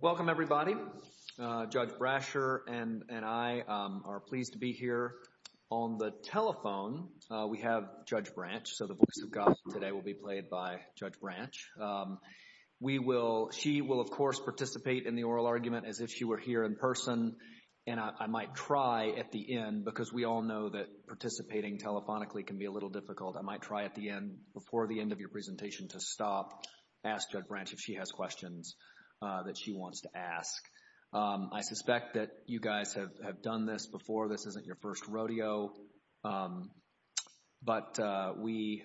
Welcome, everybody. Judge Brasher and I are pleased to be here on the telephone. We have Judge Branch, so the voice of God today will be played by Judge Branch. We will, she will of course participate in the oral argument as if she were here in person, and I might try at the end because we all know that participating telephonically can be a little difficult. I might try at the end, before the end of your presentation, to stop, ask Judge Branch if she has questions that she wants to ask. I suspect that you guys have done this before. This isn't your first rodeo, but we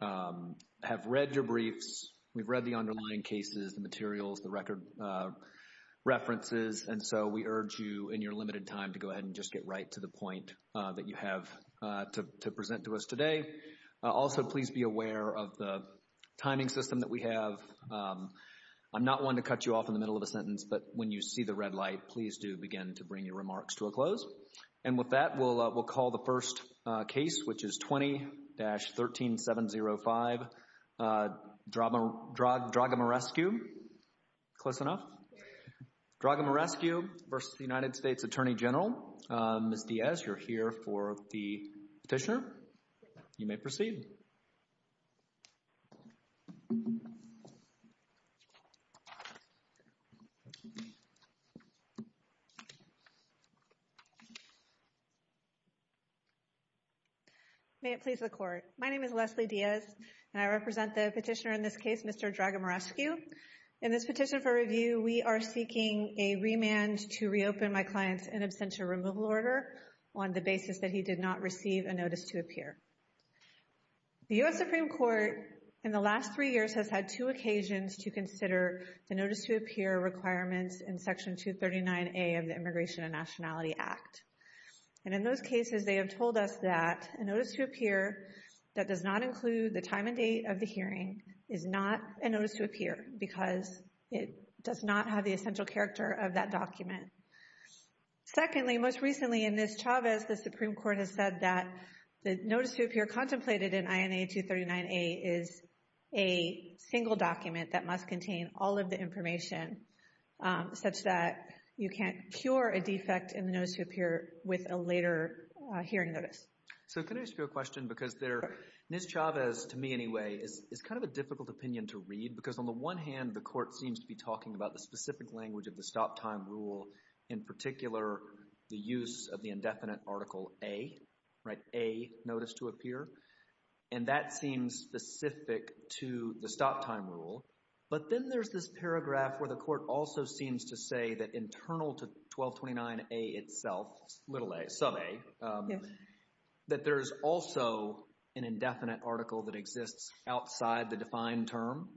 have read your briefs. We've read the underlying cases, the materials, the record references, and so we urge you in your limited time to go ahead and just get right to the point that you have to present to us today. Also, please be aware of the timing system that we have. I'm not one to cut you off in the middle of a sentence, but when you see the red light, please do begin to bring your remarks to a close. And with that, we'll call the first case, which is 20-13705, Dragomirescu, close enough? Dragomirescu v. U.S. Attorney General. Ms. Diaz, you're here for the petitioner. You may proceed. May it please the Court. My name is Leslie Diaz, and I represent the petitioner in this case, Mr. Dragomirescu. In this petition for review, we are seeking a remand to reopen my client's in absentia removal order on the basis that he did not receive a notice to appear. The U.S. Supreme Court, in the last three years, has had two occasions to consider the notice to appear requirements in Section 239A of the Immigration and Nationality Act. And in those cases, they have told us that a notice to appear that does not include the time and date of the hearing is not a notice to appear because it does not have the essential character of that document. Secondly, most recently, in Ms. Chavez, the Supreme Court has said that the notice to appear contemplated in INA 239A is a single document that must contain all of the information such that you can't cure a defect in the notice to appear with a later hearing notice. So can I ask you a question? Because Ms. Chavez, to me anyway, is kind of a difficult opinion to read because on the one hand, the court seems to be talking about the specific language of the stop time rule, in particular, the use of the indefinite article A, right? A notice to appear. And that seems specific to the stop time rule. But then there's this paragraph where the court also seems to say that internal to 1229A itself, little a, sub a, that there's also an indefinite article that exists outside the defined term.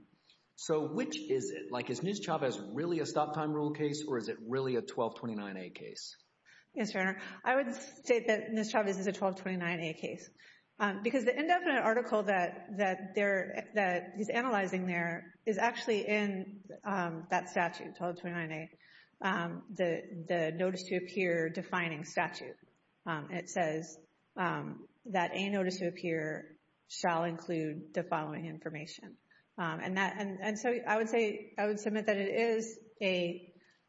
So which is it? Like is Ms. Chavez really a stop time rule case or is it really a 1229A case? Yes, Your Honor. I would state that Ms. Chavez is a 1229A case because the indefinite article that he's analyzing there is actually in that statute, 1229A, the notice to appear defining statute. It says that a notice to appear shall include the following information. And so I would say, I would submit that it is a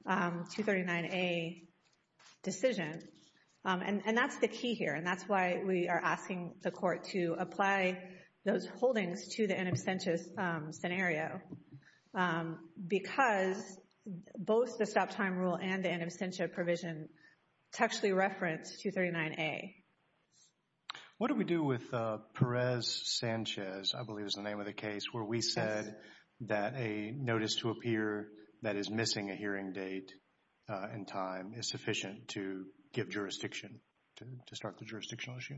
239A decision. And that's the key here. And that's why we are asking the court to apply those holdings to the in absentia scenario. Because both the stop time rule and the in absentia provision textually reference 239A. What do we do with Perez-Sanchez, I believe is the name of the case, where we said that a notice to appear that is missing a hearing date and time is sufficient to give jurisdiction to start the jurisdictional issue?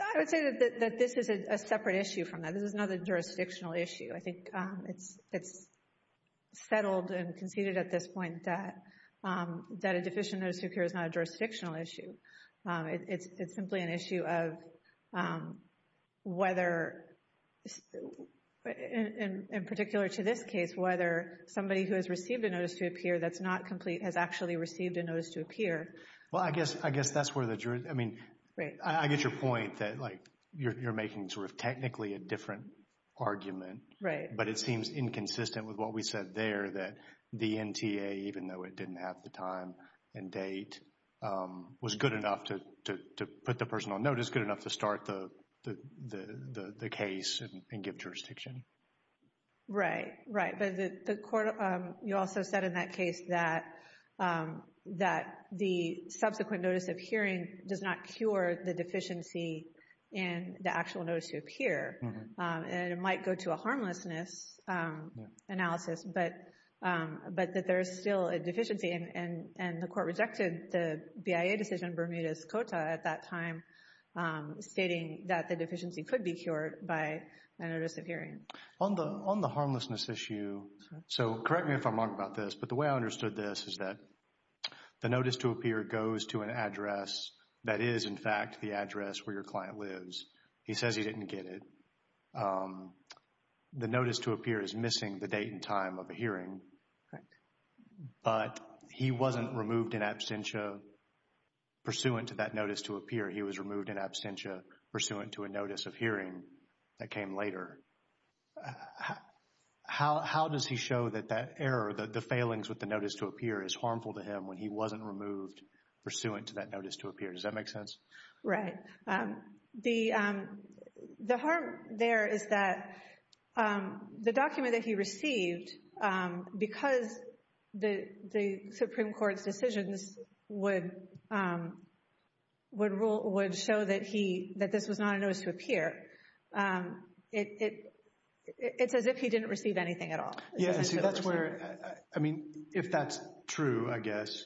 I would say that this is a separate issue from that. This is not a jurisdictional issue. I think it's settled and conceded at this point that a deficient notice to appear is not a jurisdictional issue. It's simply an issue of whether, in particular to this case, whether somebody who has received a notice to appear that's not complete has actually received a notice to appear. Well, I guess that's where the jury, I mean, I get your point that like you're making sort of technically a different argument. Right. But it seems inconsistent with what we said there that the NTA, even though it didn't have the time and date, was good enough to put the personal notice, good enough to start the case and give jurisdiction. Right, right. But the court, you also said in that case that that the subsequent notice of hearing does not cure the deficiency in the actual notice to appear. And it might go to a harmlessness analysis, but that there is still a deficiency. And the court rejected the BIA decision, Bermuda's COTA at that time, stating that the deficiency could be cured by a notice of hearing. On the harmlessness issue, so correct me if I'm wrong about this, but the way I understood this is that the notice to appear goes to an address that is, in fact, the address where your client lives. He says he didn't get it. The notice to appear is missing the date and time of a hearing, but he wasn't removed in absentia pursuant to that notice to appear. He was removed in absentia pursuant to a notice of hearing that came later. How does he know that that error, the failings with the notice to appear is harmful to him when he wasn't removed pursuant to that notice to appear? Does that make sense? Right. The harm there is that the document that he received, because the Supreme Court's decisions would show that this was not a notice to appear, it's as if he didn't receive anything at all. Yeah, see that's where, I mean, if that's true, I guess,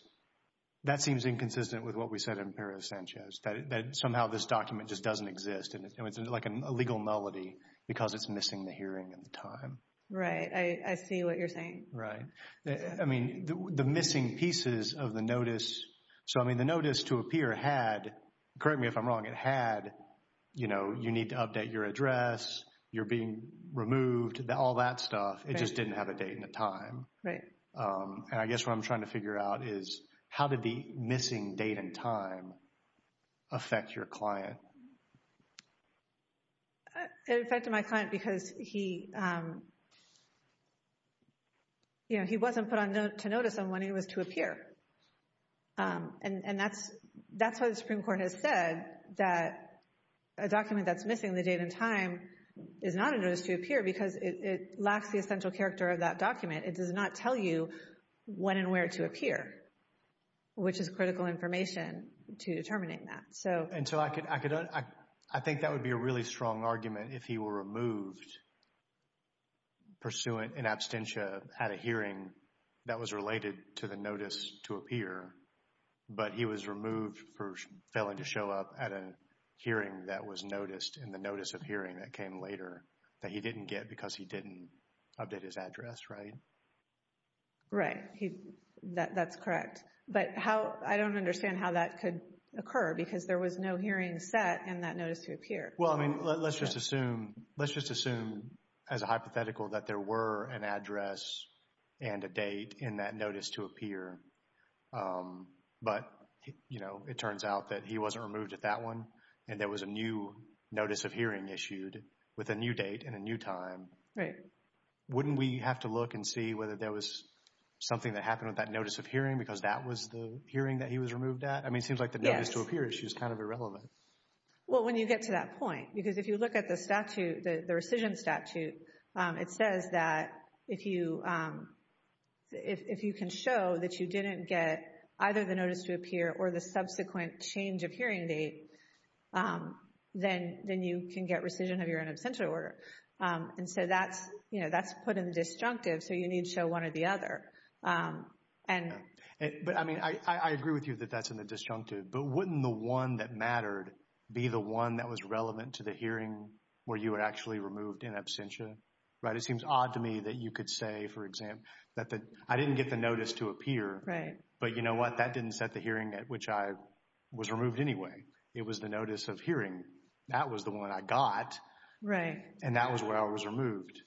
that seems inconsistent with what we said in Perez-Sanchez, that somehow this document just doesn't exist and it's like a legal nullity because it's missing the hearing and the time. Right. I see what you're saying. Right. I mean, the missing pieces of the notice, so I mean the notice to appear had, correct me if I'm wrong, it had, you know, you need to update your address, you're being removed, all that stuff, it just didn't have a date and a time. Right. And I guess what I'm trying to figure out is how did the missing date and time affect your client? It affected my client because he, you know, he wasn't put to notice on when he was to appear. And that's why the Supreme Court has said that a document that's missing the date and time is not a notice to appear because it lacks the essential character of that document. It does not tell you when and where to appear, which is critical information to determine that, so. And so I could, I think that would be a really strong argument if he were removed pursuant in absentia at a hearing that was related to the notice to appear, but he was removed for he didn't get because he didn't update his address, right? Right. He, that's correct. But how, I don't understand how that could occur because there was no hearing set in that notice to appear. Well, I mean, let's just assume, let's just assume as a hypothetical that there were an address and a date in that notice to appear, but, you know, it turns out that he wasn't removed at that one and there was a new notice of hearing issued with a new date and a new time. Right. Wouldn't we have to look and see whether there was something that happened with that notice of hearing because that was the hearing that he was removed at? I mean, it seems like the notice to appear issue is kind of irrelevant. Well, when you get to that point, because if you look at the statute, the rescission statute, it says that if you, if you can show that you were removed at that date, then you can get rescission of your own absentia order. And so that's, you know, that's put in the disjunctive. So you need to show one or the other. And, but I mean, I agree with you that that's in the disjunctive, but wouldn't the one that mattered be the one that was relevant to the hearing where you were actually removed in absentia? Right. It seems odd to me that you could say, for example, that the, I didn't get the notice to appear. Right. But you know what? That didn't set the hearing at which I was removed anyway. It was the notice of hearing. That was the one I got. Right. And that was where I was removed.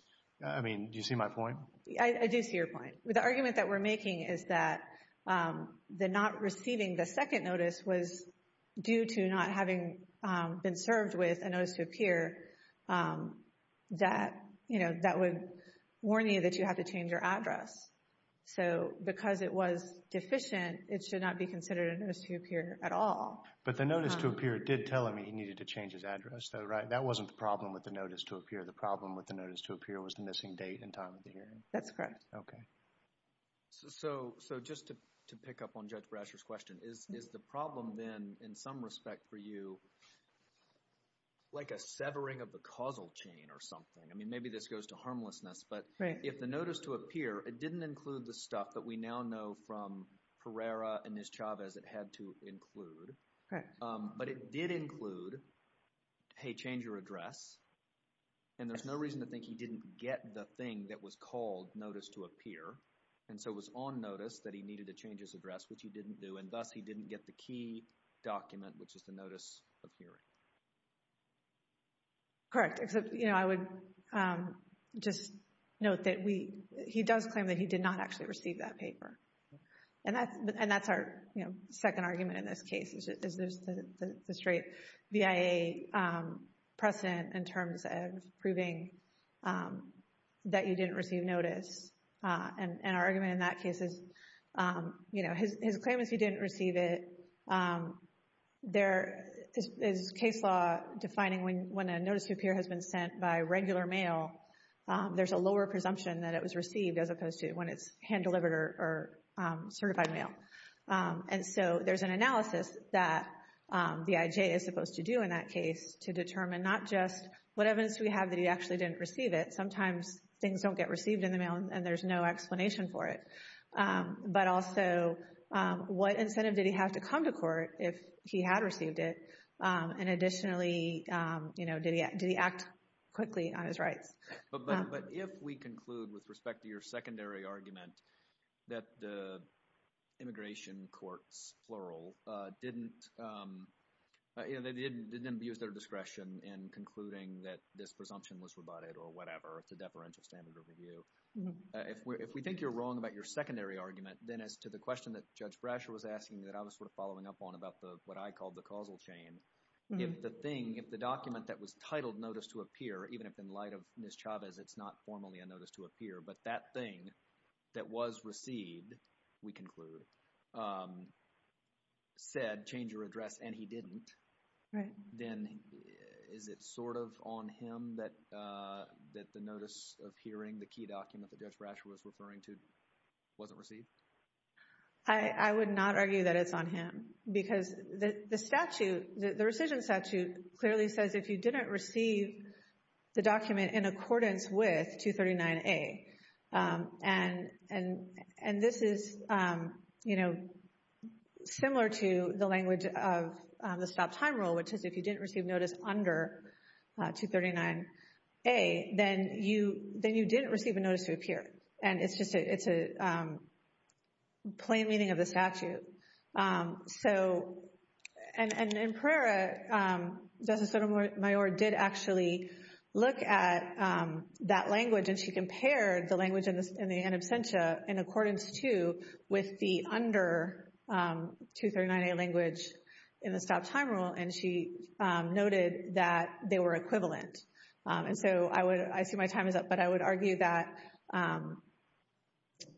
I mean, do you see my point? I do see your point. The argument that we're making is that the not receiving the second notice was due to not having been served with a notice to appear that, you know, that would warn you that you have to change your address. So because it was deficient, it should not be considered a notice to appear at all. But the notice to appear did tell him he needed to change his address though, right? That wasn't the problem with the notice to appear. The problem with the notice to appear was the missing date and time of the hearing. That's correct. Okay. So just to pick up on Judge Brasher's question, is the problem then, in some respect for you, like a severing of the causal chain or something? I mean, maybe this goes to harmlessness, but if the notice to appear, it didn't include the stuff that we now know from Pereira and Ms. Chavez it had to include. Right. But it did include, hey, change your address. And there's no reason to think he didn't get the thing that was called notice to appear. And so it was on notice that he needed to change his address, which he didn't do, and thus he didn't get the key document, which is the notice of hearing. Correct. Except, you know, I would just note that he does claim that he did not actually receive that paper. And that's our second argument in this case, is there's the straight VIA precedent in terms of proving that you didn't receive notice. And our argument in that case is, you know, his claim is he didn't receive it. There is case law defining when a notice to appear has been sent by regular mail, there's a lower presumption that it was received as opposed to when it's hand-delivered or certified mail. And so there's an analysis that the IJ is supposed to do in that case to determine not just what evidence do we have that he actually didn't receive it. Sometimes things don't get received in the mail and there's no explanation for it. But also, what incentive did he have to come to court if he had received it? And additionally, you know, did he act quickly on his rights? But if we conclude with respect to your secondary argument that the immigration courts, plural, didn't, you know, they didn't use their discretion in concluding that this presumption was rebutted or whatever, it's a deferential standard of review. If we think you're wrong about your secondary argument, then as to the question that Judge Brasher was asking that I was sort of following up on about what I called the causal chain, if the thing, if the document that was titled notice to appear, even if in light of Ms. Chavez, it's not formally a notice to appear, but that thing that was received, we conclude, said change your address and he didn't, then is it sort of on him that the notice of appearing, the key document that Judge Brasher was referring to, wasn't received? I would not argue that it's on him because the statute, the rescission statute, clearly says if you didn't receive the document in accordance with 239A, and this is, you know, similar to the language of the stop time rule, which is if you didn't receive notice under 239A, then you didn't receive a notice to appear. And it's just, it's a plain meaning of the statute. So, and in Pereira, Justice Sotomayor did actually look at that language and she compared the language in the in absentia in accordance to, with the under 239A language in the stop time rule, and she noted that they were equivalent. And so I would, I see my time is up, but I would argue that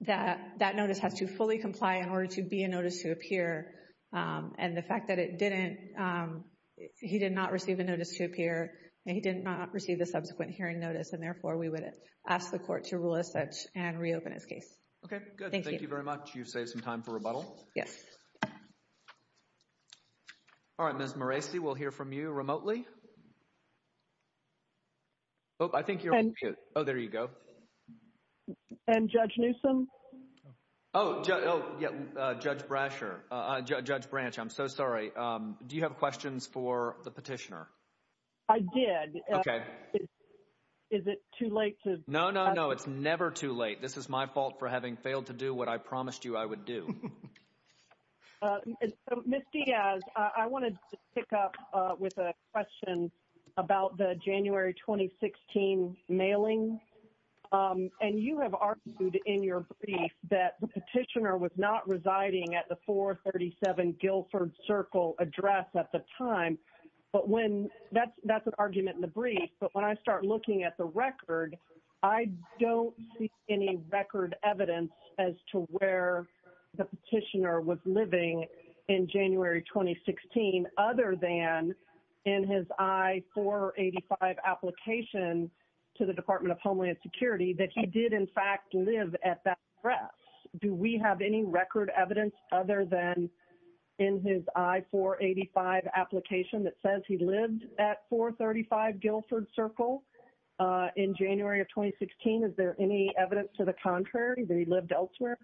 that notice has to fully comply in order to be a notice to appear. And the fact that it didn't, he did not receive a notice to appear, and he did not receive the subsequent hearing notice, and therefore we would ask the court to rule as such and reopen his case. Okay, good. Thank you very much. You've saved some time for rebuttal. Yes. All right, Ms. Moresi, we'll hear from you remotely. Oh, I think you're on mute. Oh, there you go. And Judge Newsom? Oh, oh yeah, Judge Brasher, Judge Branch, I'm so sorry. Do you have questions for the petitioner? I did. Okay. Is it too late to? No, no, no, it's never too late. This is my fault for having failed to do what I promised you I would do. Ms. Diaz, I wanted to pick up with a question about the January 2016 mailing. And you have argued in your brief that the petitioner was not residing at the 437 Guilford Circle address at the time. But when, that's an argument in the brief, but when I start looking at the petitioner was living in January 2016, other than in his I-485 application to the Department of Homeland Security, that he did in fact live at that address. Do we have any record evidence other than in his I-485 application that says he lived at 435 Guilford Circle in January of 2016? Is there any evidence to the contrary that he lived elsewhere?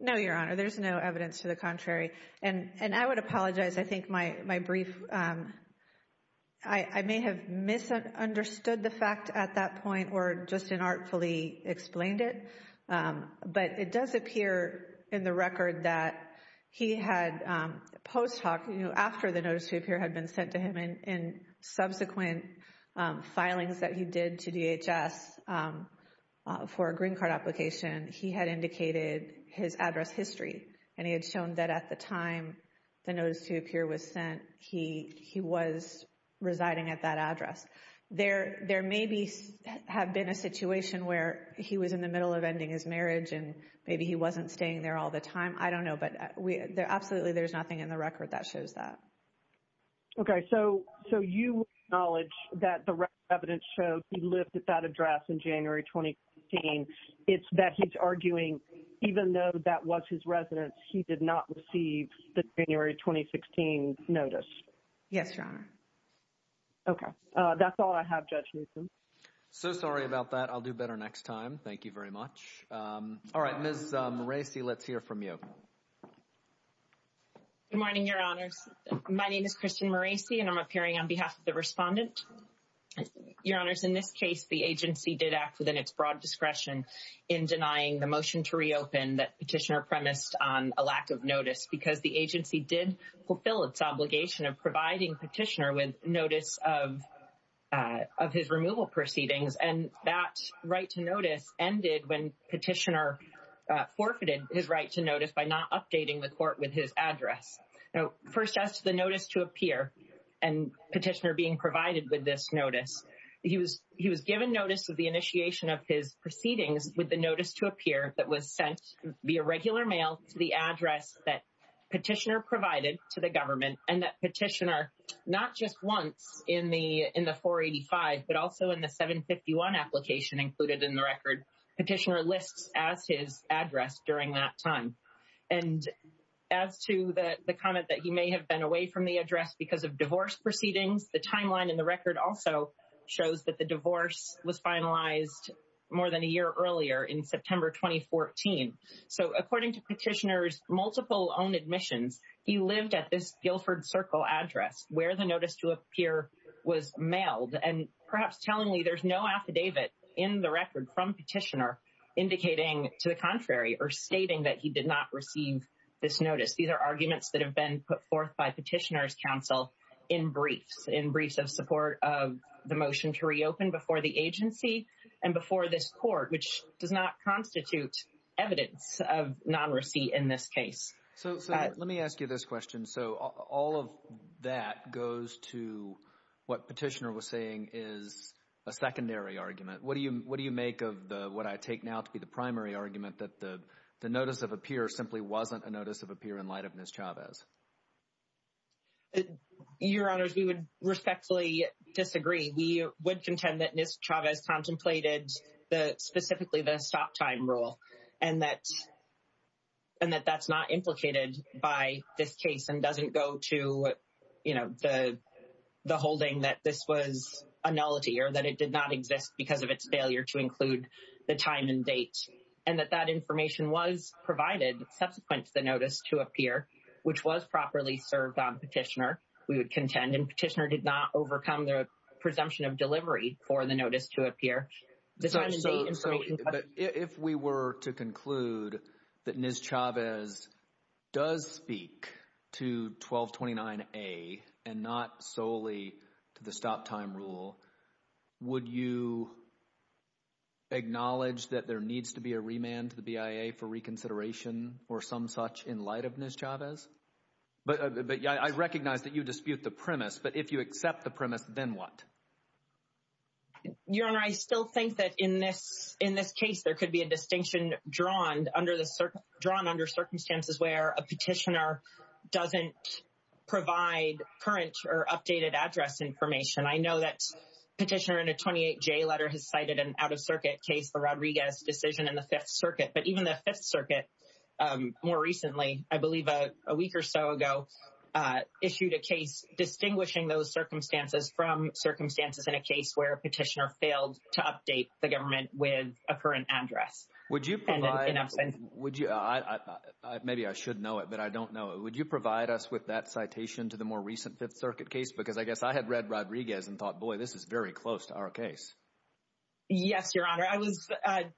No, Your Honor, there's no evidence to the contrary. And I would apologize. I think my brief, I may have misunderstood the fact at that point or just inartfully explained it. But it does appear in the record that he had post hoc, you know, after the notice to appear had been sent to him in subsequent filings that he did to DHS for a green card application, he had indicated his address history. And he had shown that at the time the notice to appear was sent, he was residing at that address. There may have been a situation where he was in the middle of ending his marriage and maybe he wasn't staying there all the time. I don't know. But absolutely there's nothing in the record that he lived at that address in January 2016. It's that he's arguing, even though that was his residence, he did not receive the January 2016 notice. Yes, Your Honor. Okay. That's all I have, Judge Newsom. So sorry about that. I'll do better next time. Thank you very much. All right, Ms. Moreci, let's hear from you. Good morning, Your Honors. My name is Christian and I'm appearing on behalf of the respondent. Your Honors, in this case, the agency did act within its broad discretion in denying the motion to reopen that petitioner premised on a lack of notice because the agency did fulfill its obligation of providing petitioner with notice of his removal proceedings. And that right to notice ended when petitioner forfeited his right to and petitioner being provided with this notice. He was given notice of the initiation of his proceedings with the notice to appear that was sent via regular mail to the address that petitioner provided to the government and that petitioner, not just once in the 485, but also in the 751 application included in the record, petitioner lists as his address during that time. And as to the comment that he may have been away from the address because of divorce proceedings, the timeline in the record also shows that the divorce was finalized more than a year earlier in September 2014. So according to petitioner's multiple own admissions, he lived at this Guilford Circle address where the notice to appear was mailed and perhaps telling me there's no this notice. These are arguments that have been put forth by petitioner's counsel in briefs, in briefs of support of the motion to reopen before the agency and before this court, which does not constitute evidence of non-receipt in this case. So let me ask you this question. So all of that goes to what petitioner was saying is a secondary argument. What do you make of what I take now to be the primary argument that the notice of appear simply wasn't a notice of appear in light of Ms. Chavez? Your honors, we would respectfully disagree. We would contend that Ms. Chavez contemplated the specifically the stop time rule and that that's not implicated by this case and doesn't go to the holding that this was a nullity or that it did not exist because of its failure to include the time and date and that that information was provided subsequent to the notice to appear, which was properly served on petitioner. We would contend and petitioner did not overcome the presumption of delivery for the notice to appear. If we were to conclude that Ms. Chavez does speak to 1229A and not solely to the stop time rule, would you acknowledge that there needs to be a remand to the BIA for reconsideration or some such in light of Ms. Chavez? But I recognize that you dispute the premise, but if you accept the premise, then what? Your honor, I still think that in this case, there could be a distinction drawn under circumstances where a petitioner doesn't provide current or updated address information. I know that petitioner in a 28J letter has cited an out-of-circuit case, the Rodriguez decision in the Fifth Circuit, but even the Fifth Circuit more recently, I believe a week or so ago, issued a case distinguishing those circumstances from circumstances in a case where a petitioner failed to update the government with a current address. Would you provide, maybe I should know it, but I don't know it. Would you provide us with that citation to the more recent Fifth Circuit case? Because I guess I had read Rodriguez and thought, boy, this is very close to our case. Yes, your honor. I was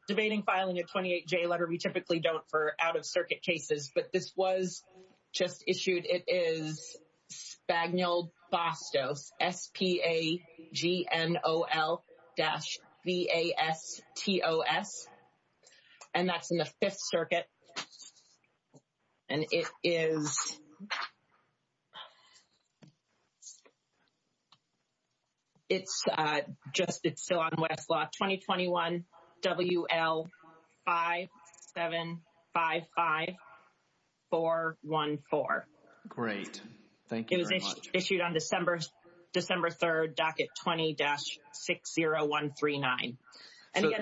debating filing a 28J letter. We typically don't for out-of-circuit cases, but this was just issued. It is SpagnolBastos, S-P-A-G-N-O-L dash V-A-S-T-O-S. And that's in the Fifth Circuit. And it is, it's just, it's still on Westlaw, 2021 W-L-5-7-5-5-4-1-4. Great. Thank you very much. It was issued on December 3rd, docket 20-60139. So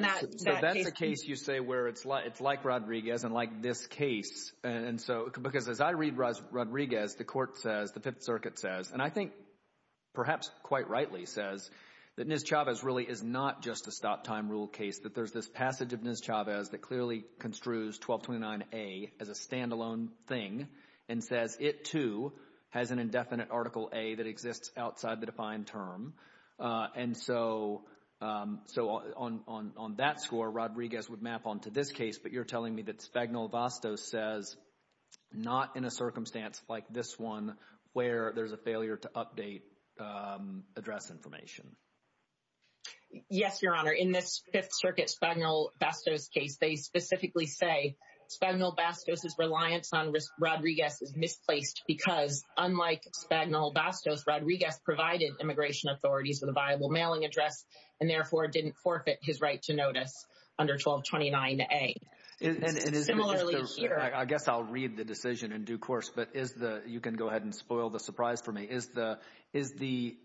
that's a case you say where it's like Rodriguez and like this case. And so, because as I read Rodriguez, the court says, the Fifth Circuit says, and I think perhaps quite rightly says, that Ms. Chavez really is not just a stop time rule case, that there's this passage of Ms. Chavez that clearly construes 1229A as a standalone thing and says it too has an indefinite Article A that exists outside the defined term. And so, on that score, Rodriguez would map onto this case, but you're telling me that SpagnolBastos says not in a circumstance like this one where there's a failure to update address information. Yes, Your Honor. In this Fifth Circuit SpagnolBastos case, they specifically say SpagnolBastos' reliance on Rodriguez is misplaced because unlike SpagnolBastos, Rodriguez provided immigration authorities with a viable mailing address and therefore didn't forfeit his right to notice under 1229A. And similarly here... I guess I'll read the decision in due course, but you can go ahead and spoil the surprise for me. Is the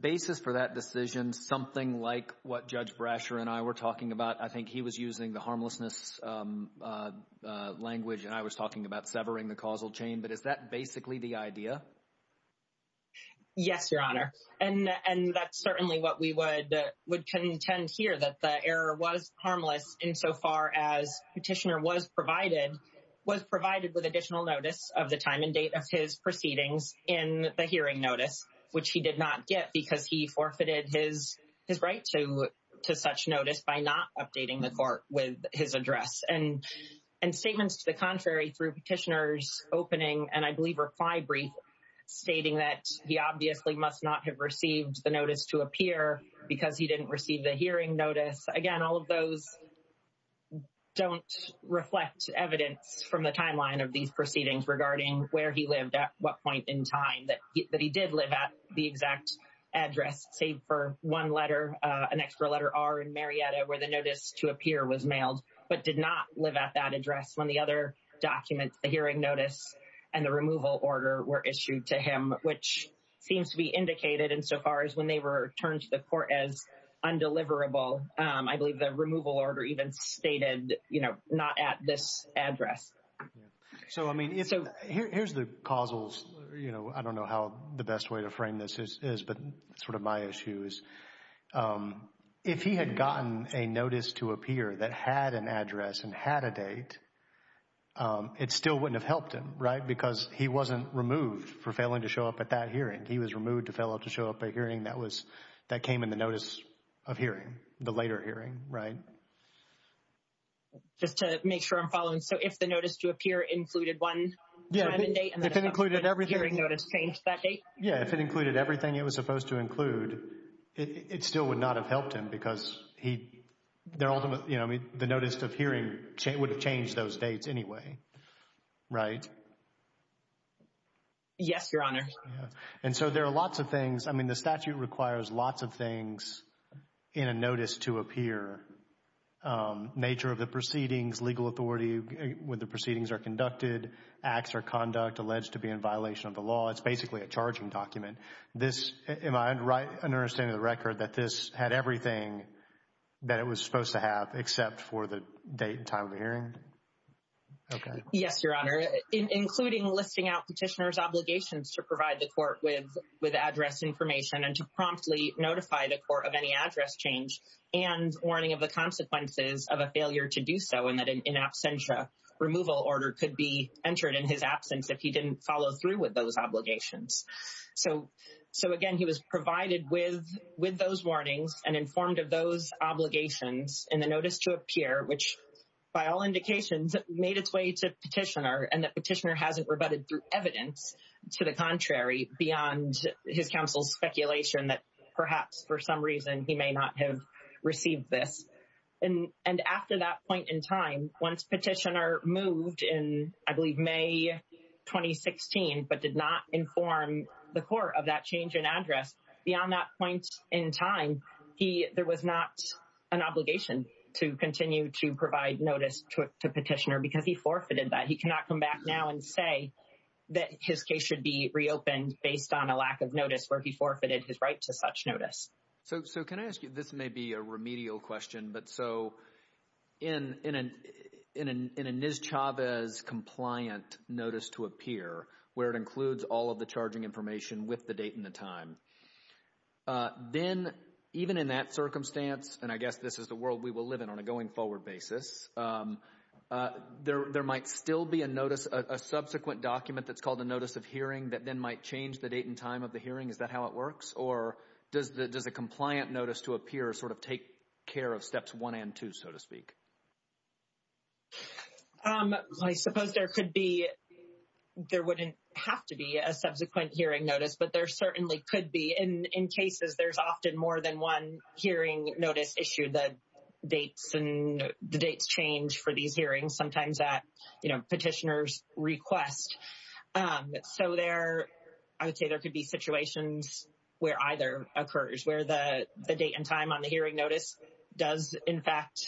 basis for that decision something like what Judge Brasher and I were talking about? I think he was using the harmlessness language and I was talking about severing the causal chain, but is that basically the idea? Yes, Your Honor. And that's certainly what we would contend here, that the error was harmless insofar as Petitioner was provided with additional notice of the time and date of his proceedings in the hearing notice, which he did not get because he forfeited his right to such notice by not updating the court with his address. And statements to the contrary through Petitioner's opening, and I believe reply brief stating that he obviously must not have received the notice to appear because he didn't receive the hearing notice. Again, all of those don't reflect evidence from the timeline of these proceedings regarding where he lived at what point in time that he did live at the exact address, save for one letter, an extra letter R in Marietta where the notice to appear was mailed, but did not live at that address when the other documents, the hearing notice and the removal order were issued to him, which seems to be indicated insofar as when they were turned to the court as undeliverable. I believe the removal order even stated, you know, not at this address. So, I mean, here's the causal, you know, I don't know how the best way to frame this is, but sort of my issue is, if he had gotten a notice to appear that had an address and had a date, it still wouldn't have helped him, right? Because he wasn't removed for failing to show up at that hearing. He was removed to fail to show up at a hearing that was, that came in the notice of hearing, the later hearing, right? Just to make sure I'm following. So, if the notice to appear included one time and date and the hearing notice changed that date? Yeah, if it included everything it was supposed to include, it still would not have helped him because he, their ultimate, you know, the notice of hearing would have changed those dates anyway, right? Yes, Your Honor. And so, there are lots of things, I mean, the statute requires lots of things in a notice to appear. Nature of the proceedings, legal authority where the proceedings are conducted, acts or conduct alleged to be in violation of the law. It's basically a charging document. This, am I right in understanding the record that this had everything that it was supposed to have except for the date and time of the hearing? Okay. Yes, Your Honor, including listing out petitioner's obligations to provide the court with address information and to promptly notify the court of any address change and warning of the consequences of a failure to do so and that in absentia, removal order could be entered in his absence if he didn't follow through with those obligations. So, again, he was provided with those warnings and informed of those obligations in the notice to appear which, by all indications, made its way to petitioner and that petitioner hasn't rebutted through evidence to the contrary beyond his counsel's speculation that perhaps for some reason he may not have received this. And after that point in time, once petitioner moved in, I believe, May 2016 but did not inform the court of that change in address, beyond that point in time, there was not an obligation to continue to provide notice to petitioner because he forfeited that. He cannot come back now and say that his case should be reopened based on a lack of notice where he forfeited his right to such notice. So, can I ask you, this may be a remedial question, but so in a NIS-Chavez compliant notice to appear where it includes all of the charging information with the date and the time, then even in that circumstance, and I guess this is the world we will live in on a going forward basis, there might still be a notice, a subsequent document that's called a notice of hearing that then might change the date and time of the hearing. Is that how it works? Or does a compliant notice to appear sort of take care of steps one and two, so to speak? I suppose there could be, there wouldn't have to be a subsequent hearing notice, but there certainly could be. In cases, there's often more than one hearing notice issue that dates and the dates change for these hearings, sometimes at, you know, petitioner's request. So, there, I would say there could be situations where either occurs, where the date and time on the hearing notice does, in fact,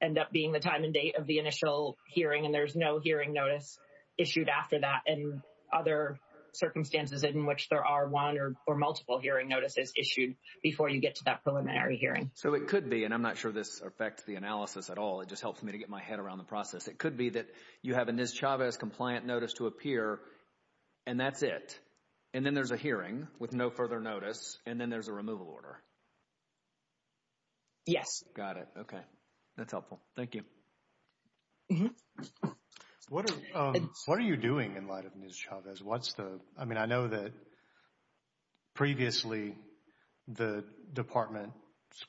end up being the time and date of the initial hearing and there's no hearing notice issued after that and other circumstances in which there are one or multiple hearing notices issued before you get to that preliminary hearing. So, it could be, and I'm not sure this affects the analysis at all. It just helps me to get my head around the process. It appears, and that's it. And then there's a hearing with no further notice, and then there's a removal order. Yes. Got it. Okay. That's helpful. Thank you. What are you doing in light of News-Chavez? What's the, I mean, I know that previously the department's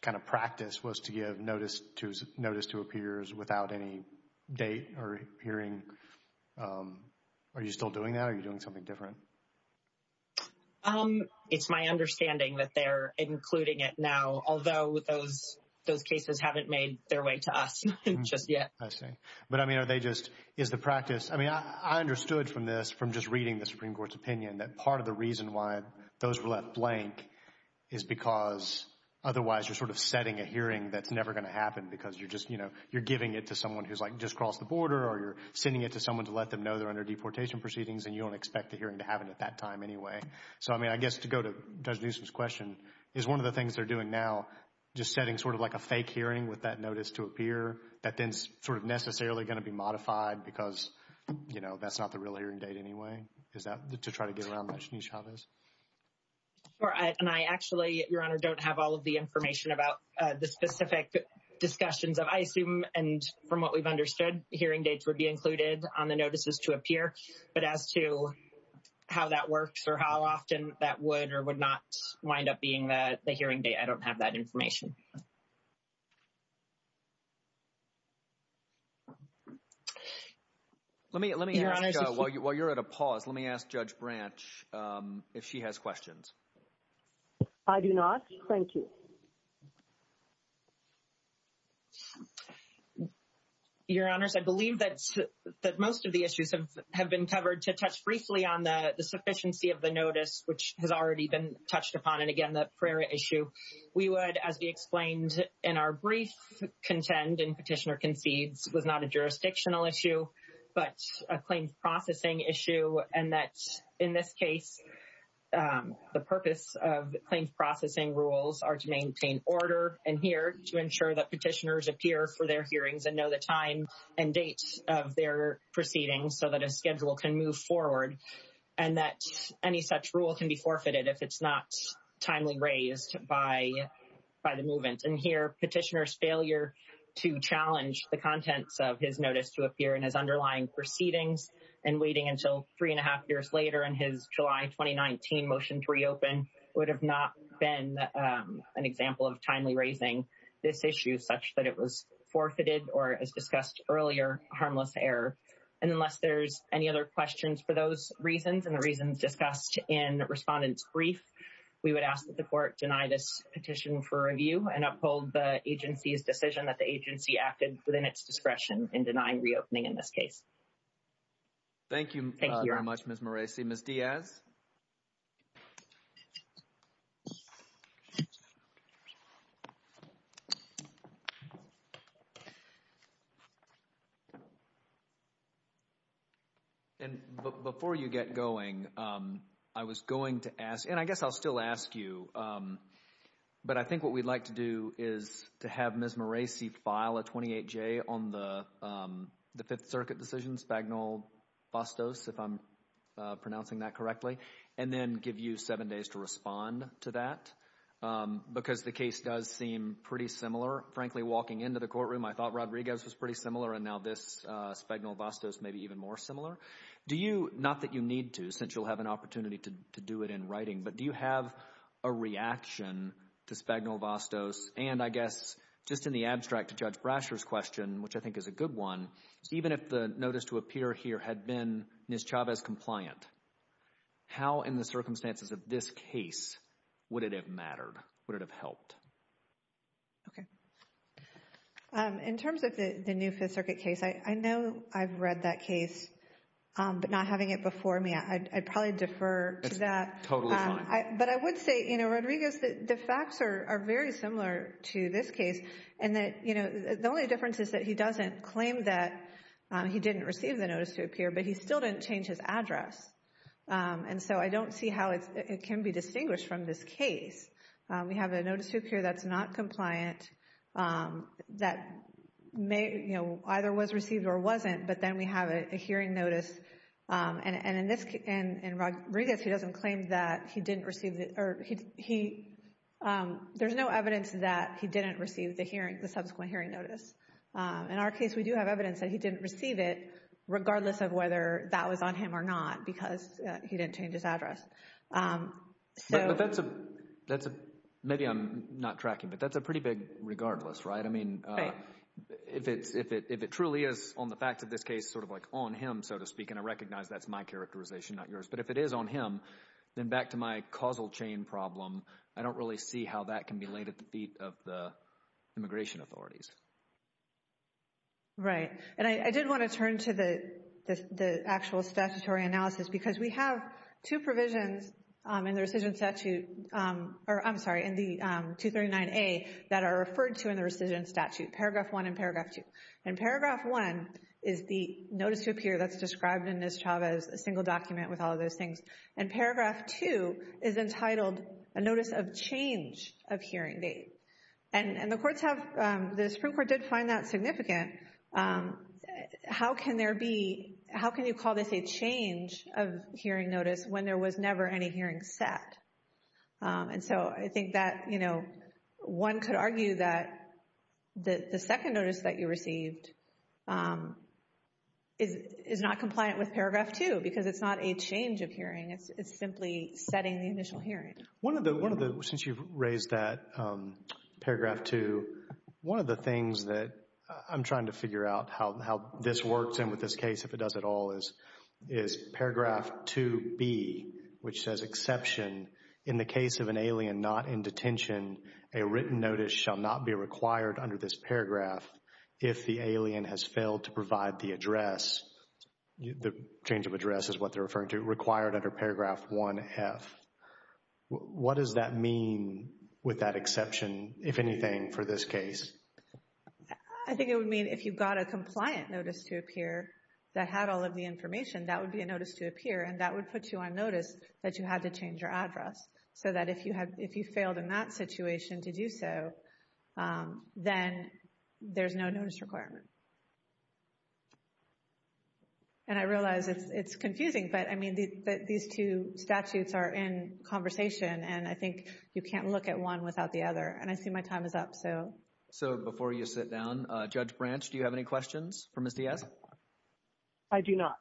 kind of practice was to give notice to appears without any date or hearing. Are you still doing that or are you doing something different? It's my understanding that they're including it now, although those cases haven't made their way to us just yet. I see. But, I mean, are they just, is the practice, I mean, I understood from this, from just reading the Supreme Court's opinion, that part of the reason why those were left blank is because otherwise you're sort of setting a hearing that's never going to happen because you're just, you know, you're giving it to someone who's, like, just crossed the border or you're sending it to someone to let them know they're under deportation proceedings and you don't expect the hearing to happen at that time anyway. So, I mean, I guess to go to Judge Newsom's question, is one of the things they're doing now just setting sort of like a fake hearing with that notice to appear, that then's sort of necessarily going to be modified because, you know, that's not the real hearing date anyway? Is that to try to get around that? Sure. And I actually, Your Honor, don't have all of the information about the specific discussions of, I assume, and from what we've understood, hearing dates would be included on the notices to appear. But as to how that works or how often that would or would not wind up being the hearing date, I don't have that information. Let me ask, while you're at a pause, let me ask Judge Branch if she has questions. I do not. Thank you. Your Honors, I believe that most of the issues have been covered. To touch briefly on the sufficiency of the notice, which has already been touched upon, and again, that Prairie issue, we would, as we explained in our brief contend, and Petitioner concedes, was not a jurisdictional issue, but a claims processing issue, and that, in this case, the purpose of claims processing rules are to maintain order, and here, to ensure that petitioners appear for their hearings and know the time and date of their proceedings so that a schedule can move forward, and that any such rule can be forfeited if it's not timely raised by the movement. And here, Petitioner's underlying proceedings and waiting until three and a half years later in his July 2019 motion to reopen would have not been an example of timely raising this issue such that it was forfeited or, as discussed earlier, harmless error. And unless there's any other questions for those reasons and the reasons discussed in Respondent's brief, we would ask that the court deny this petition for review and uphold the agency's decision that the agency acted within its discretion in denying reopening in this case. Thank you. Thank you very much, Ms. Moreci. Ms. Diaz? And before you get going, I was going to ask, and I guess I'll still ask you, but I think what we'd like to do is to have Ms. Moreci file a 28-J on the Fifth Circuit decision, Spagnol-Vastos, if I'm pronouncing that correctly, and then give you seven days to respond to that, because the case does seem pretty similar. Frankly, walking into the courtroom, I thought Rodriguez was pretty similar, and now this Spagnol-Vastos may be even more similar. Do you, not that you need to, since you'll have an opportunity to do it in writing, but do you have a reaction to Spagnol-Vastos? And I guess just in the abstract to Judge Brasher's question, which I think is a good one, even if the notice to appear here had been Ms. Chavez compliant, how in the circumstances of this case would it have mattered? Would it have helped? Okay. In terms of the new Fifth Circuit case, I know I've read that case, but not having it before me, I'd probably defer to that. Totally fine. But I would say, you know, Rodriguez, the facts are very similar to this case, and that, you know, the only difference is that he doesn't claim that he didn't receive the notice to appear, but he still didn't change his address, and so I don't see how it can be distinguished from this case. We have a notice to appear that's not compliant, that may, you know, either was notice, and in this, in Rodriguez, he doesn't claim that he didn't receive the, or he, there's no evidence that he didn't receive the hearing, the subsequent hearing notice. In our case, we do have evidence that he didn't receive it, regardless of whether that was on him or not, because he didn't change his address. But that's a, that's a, maybe I'm not tracking, but that's a pretty big regardless, right? I mean, if it's, if it truly is on the facts of this case, sort of like on him, so to speak, and I recognize that's my characterization, not yours, but if it is on him, then back to my causal chain problem, I don't really see how that can be laid at the feet of the immigration authorities. Right, and I did want to turn to the, the actual statutory analysis, because we have two provisions in the rescission statute, or I'm sorry, in the 239A that are referred to in the rescission statute, Paragraph 1 and Paragraph 2, and Paragraph 1 is the notice to appear that's described in Ms. Chavez, a single document with all of those things, and Paragraph 2 is entitled a notice of change of hearing date, and the courts have, the Supreme Court did find that significant. How can there be, how can you call this a change of hearing notice when there was never any hearing set? And so I think that, you know, one could argue that the second notice that you received is not compliant with Paragraph 2, because it's not a change of hearing, it's simply setting the initial hearing. One of the, one of the, since you've raised that, Paragraph 2, one of the things that I'm trying to figure out how this works, and with this case, if it does at all, is Paragraph 2B, which says exception in the case of an alien not in detention, a written notice shall not be required under this paragraph if the alien has failed to provide the address, the change of address is what they're referring to, required under Paragraph 1F. What does that mean with that exception, if anything, for this case? I think it would mean if you got a compliant notice to appear that had all of the information, that would be a notice to appear, and that would put you on notice that you had to change your address, so that if you had, if you failed in that situation to do so, then there's no notice requirement. And I realize it's confusing, but I mean, these two statutes are in conversation, and I think you can't look at one without the other, and I see my time is up, so. So before you sit down, Judge Branch, do you have any questions for Ms. Diaz? I do not.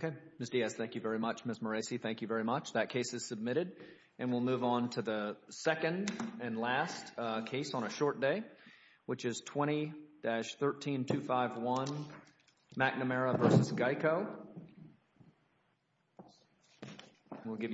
Okay. Ms. Diaz, thank you very much. Ms. Moreci, thank you very much. That case is submitted, and we'll move on to the second and last case on a short day, which is 20-13251, McNamara v. Geico. We'll give you...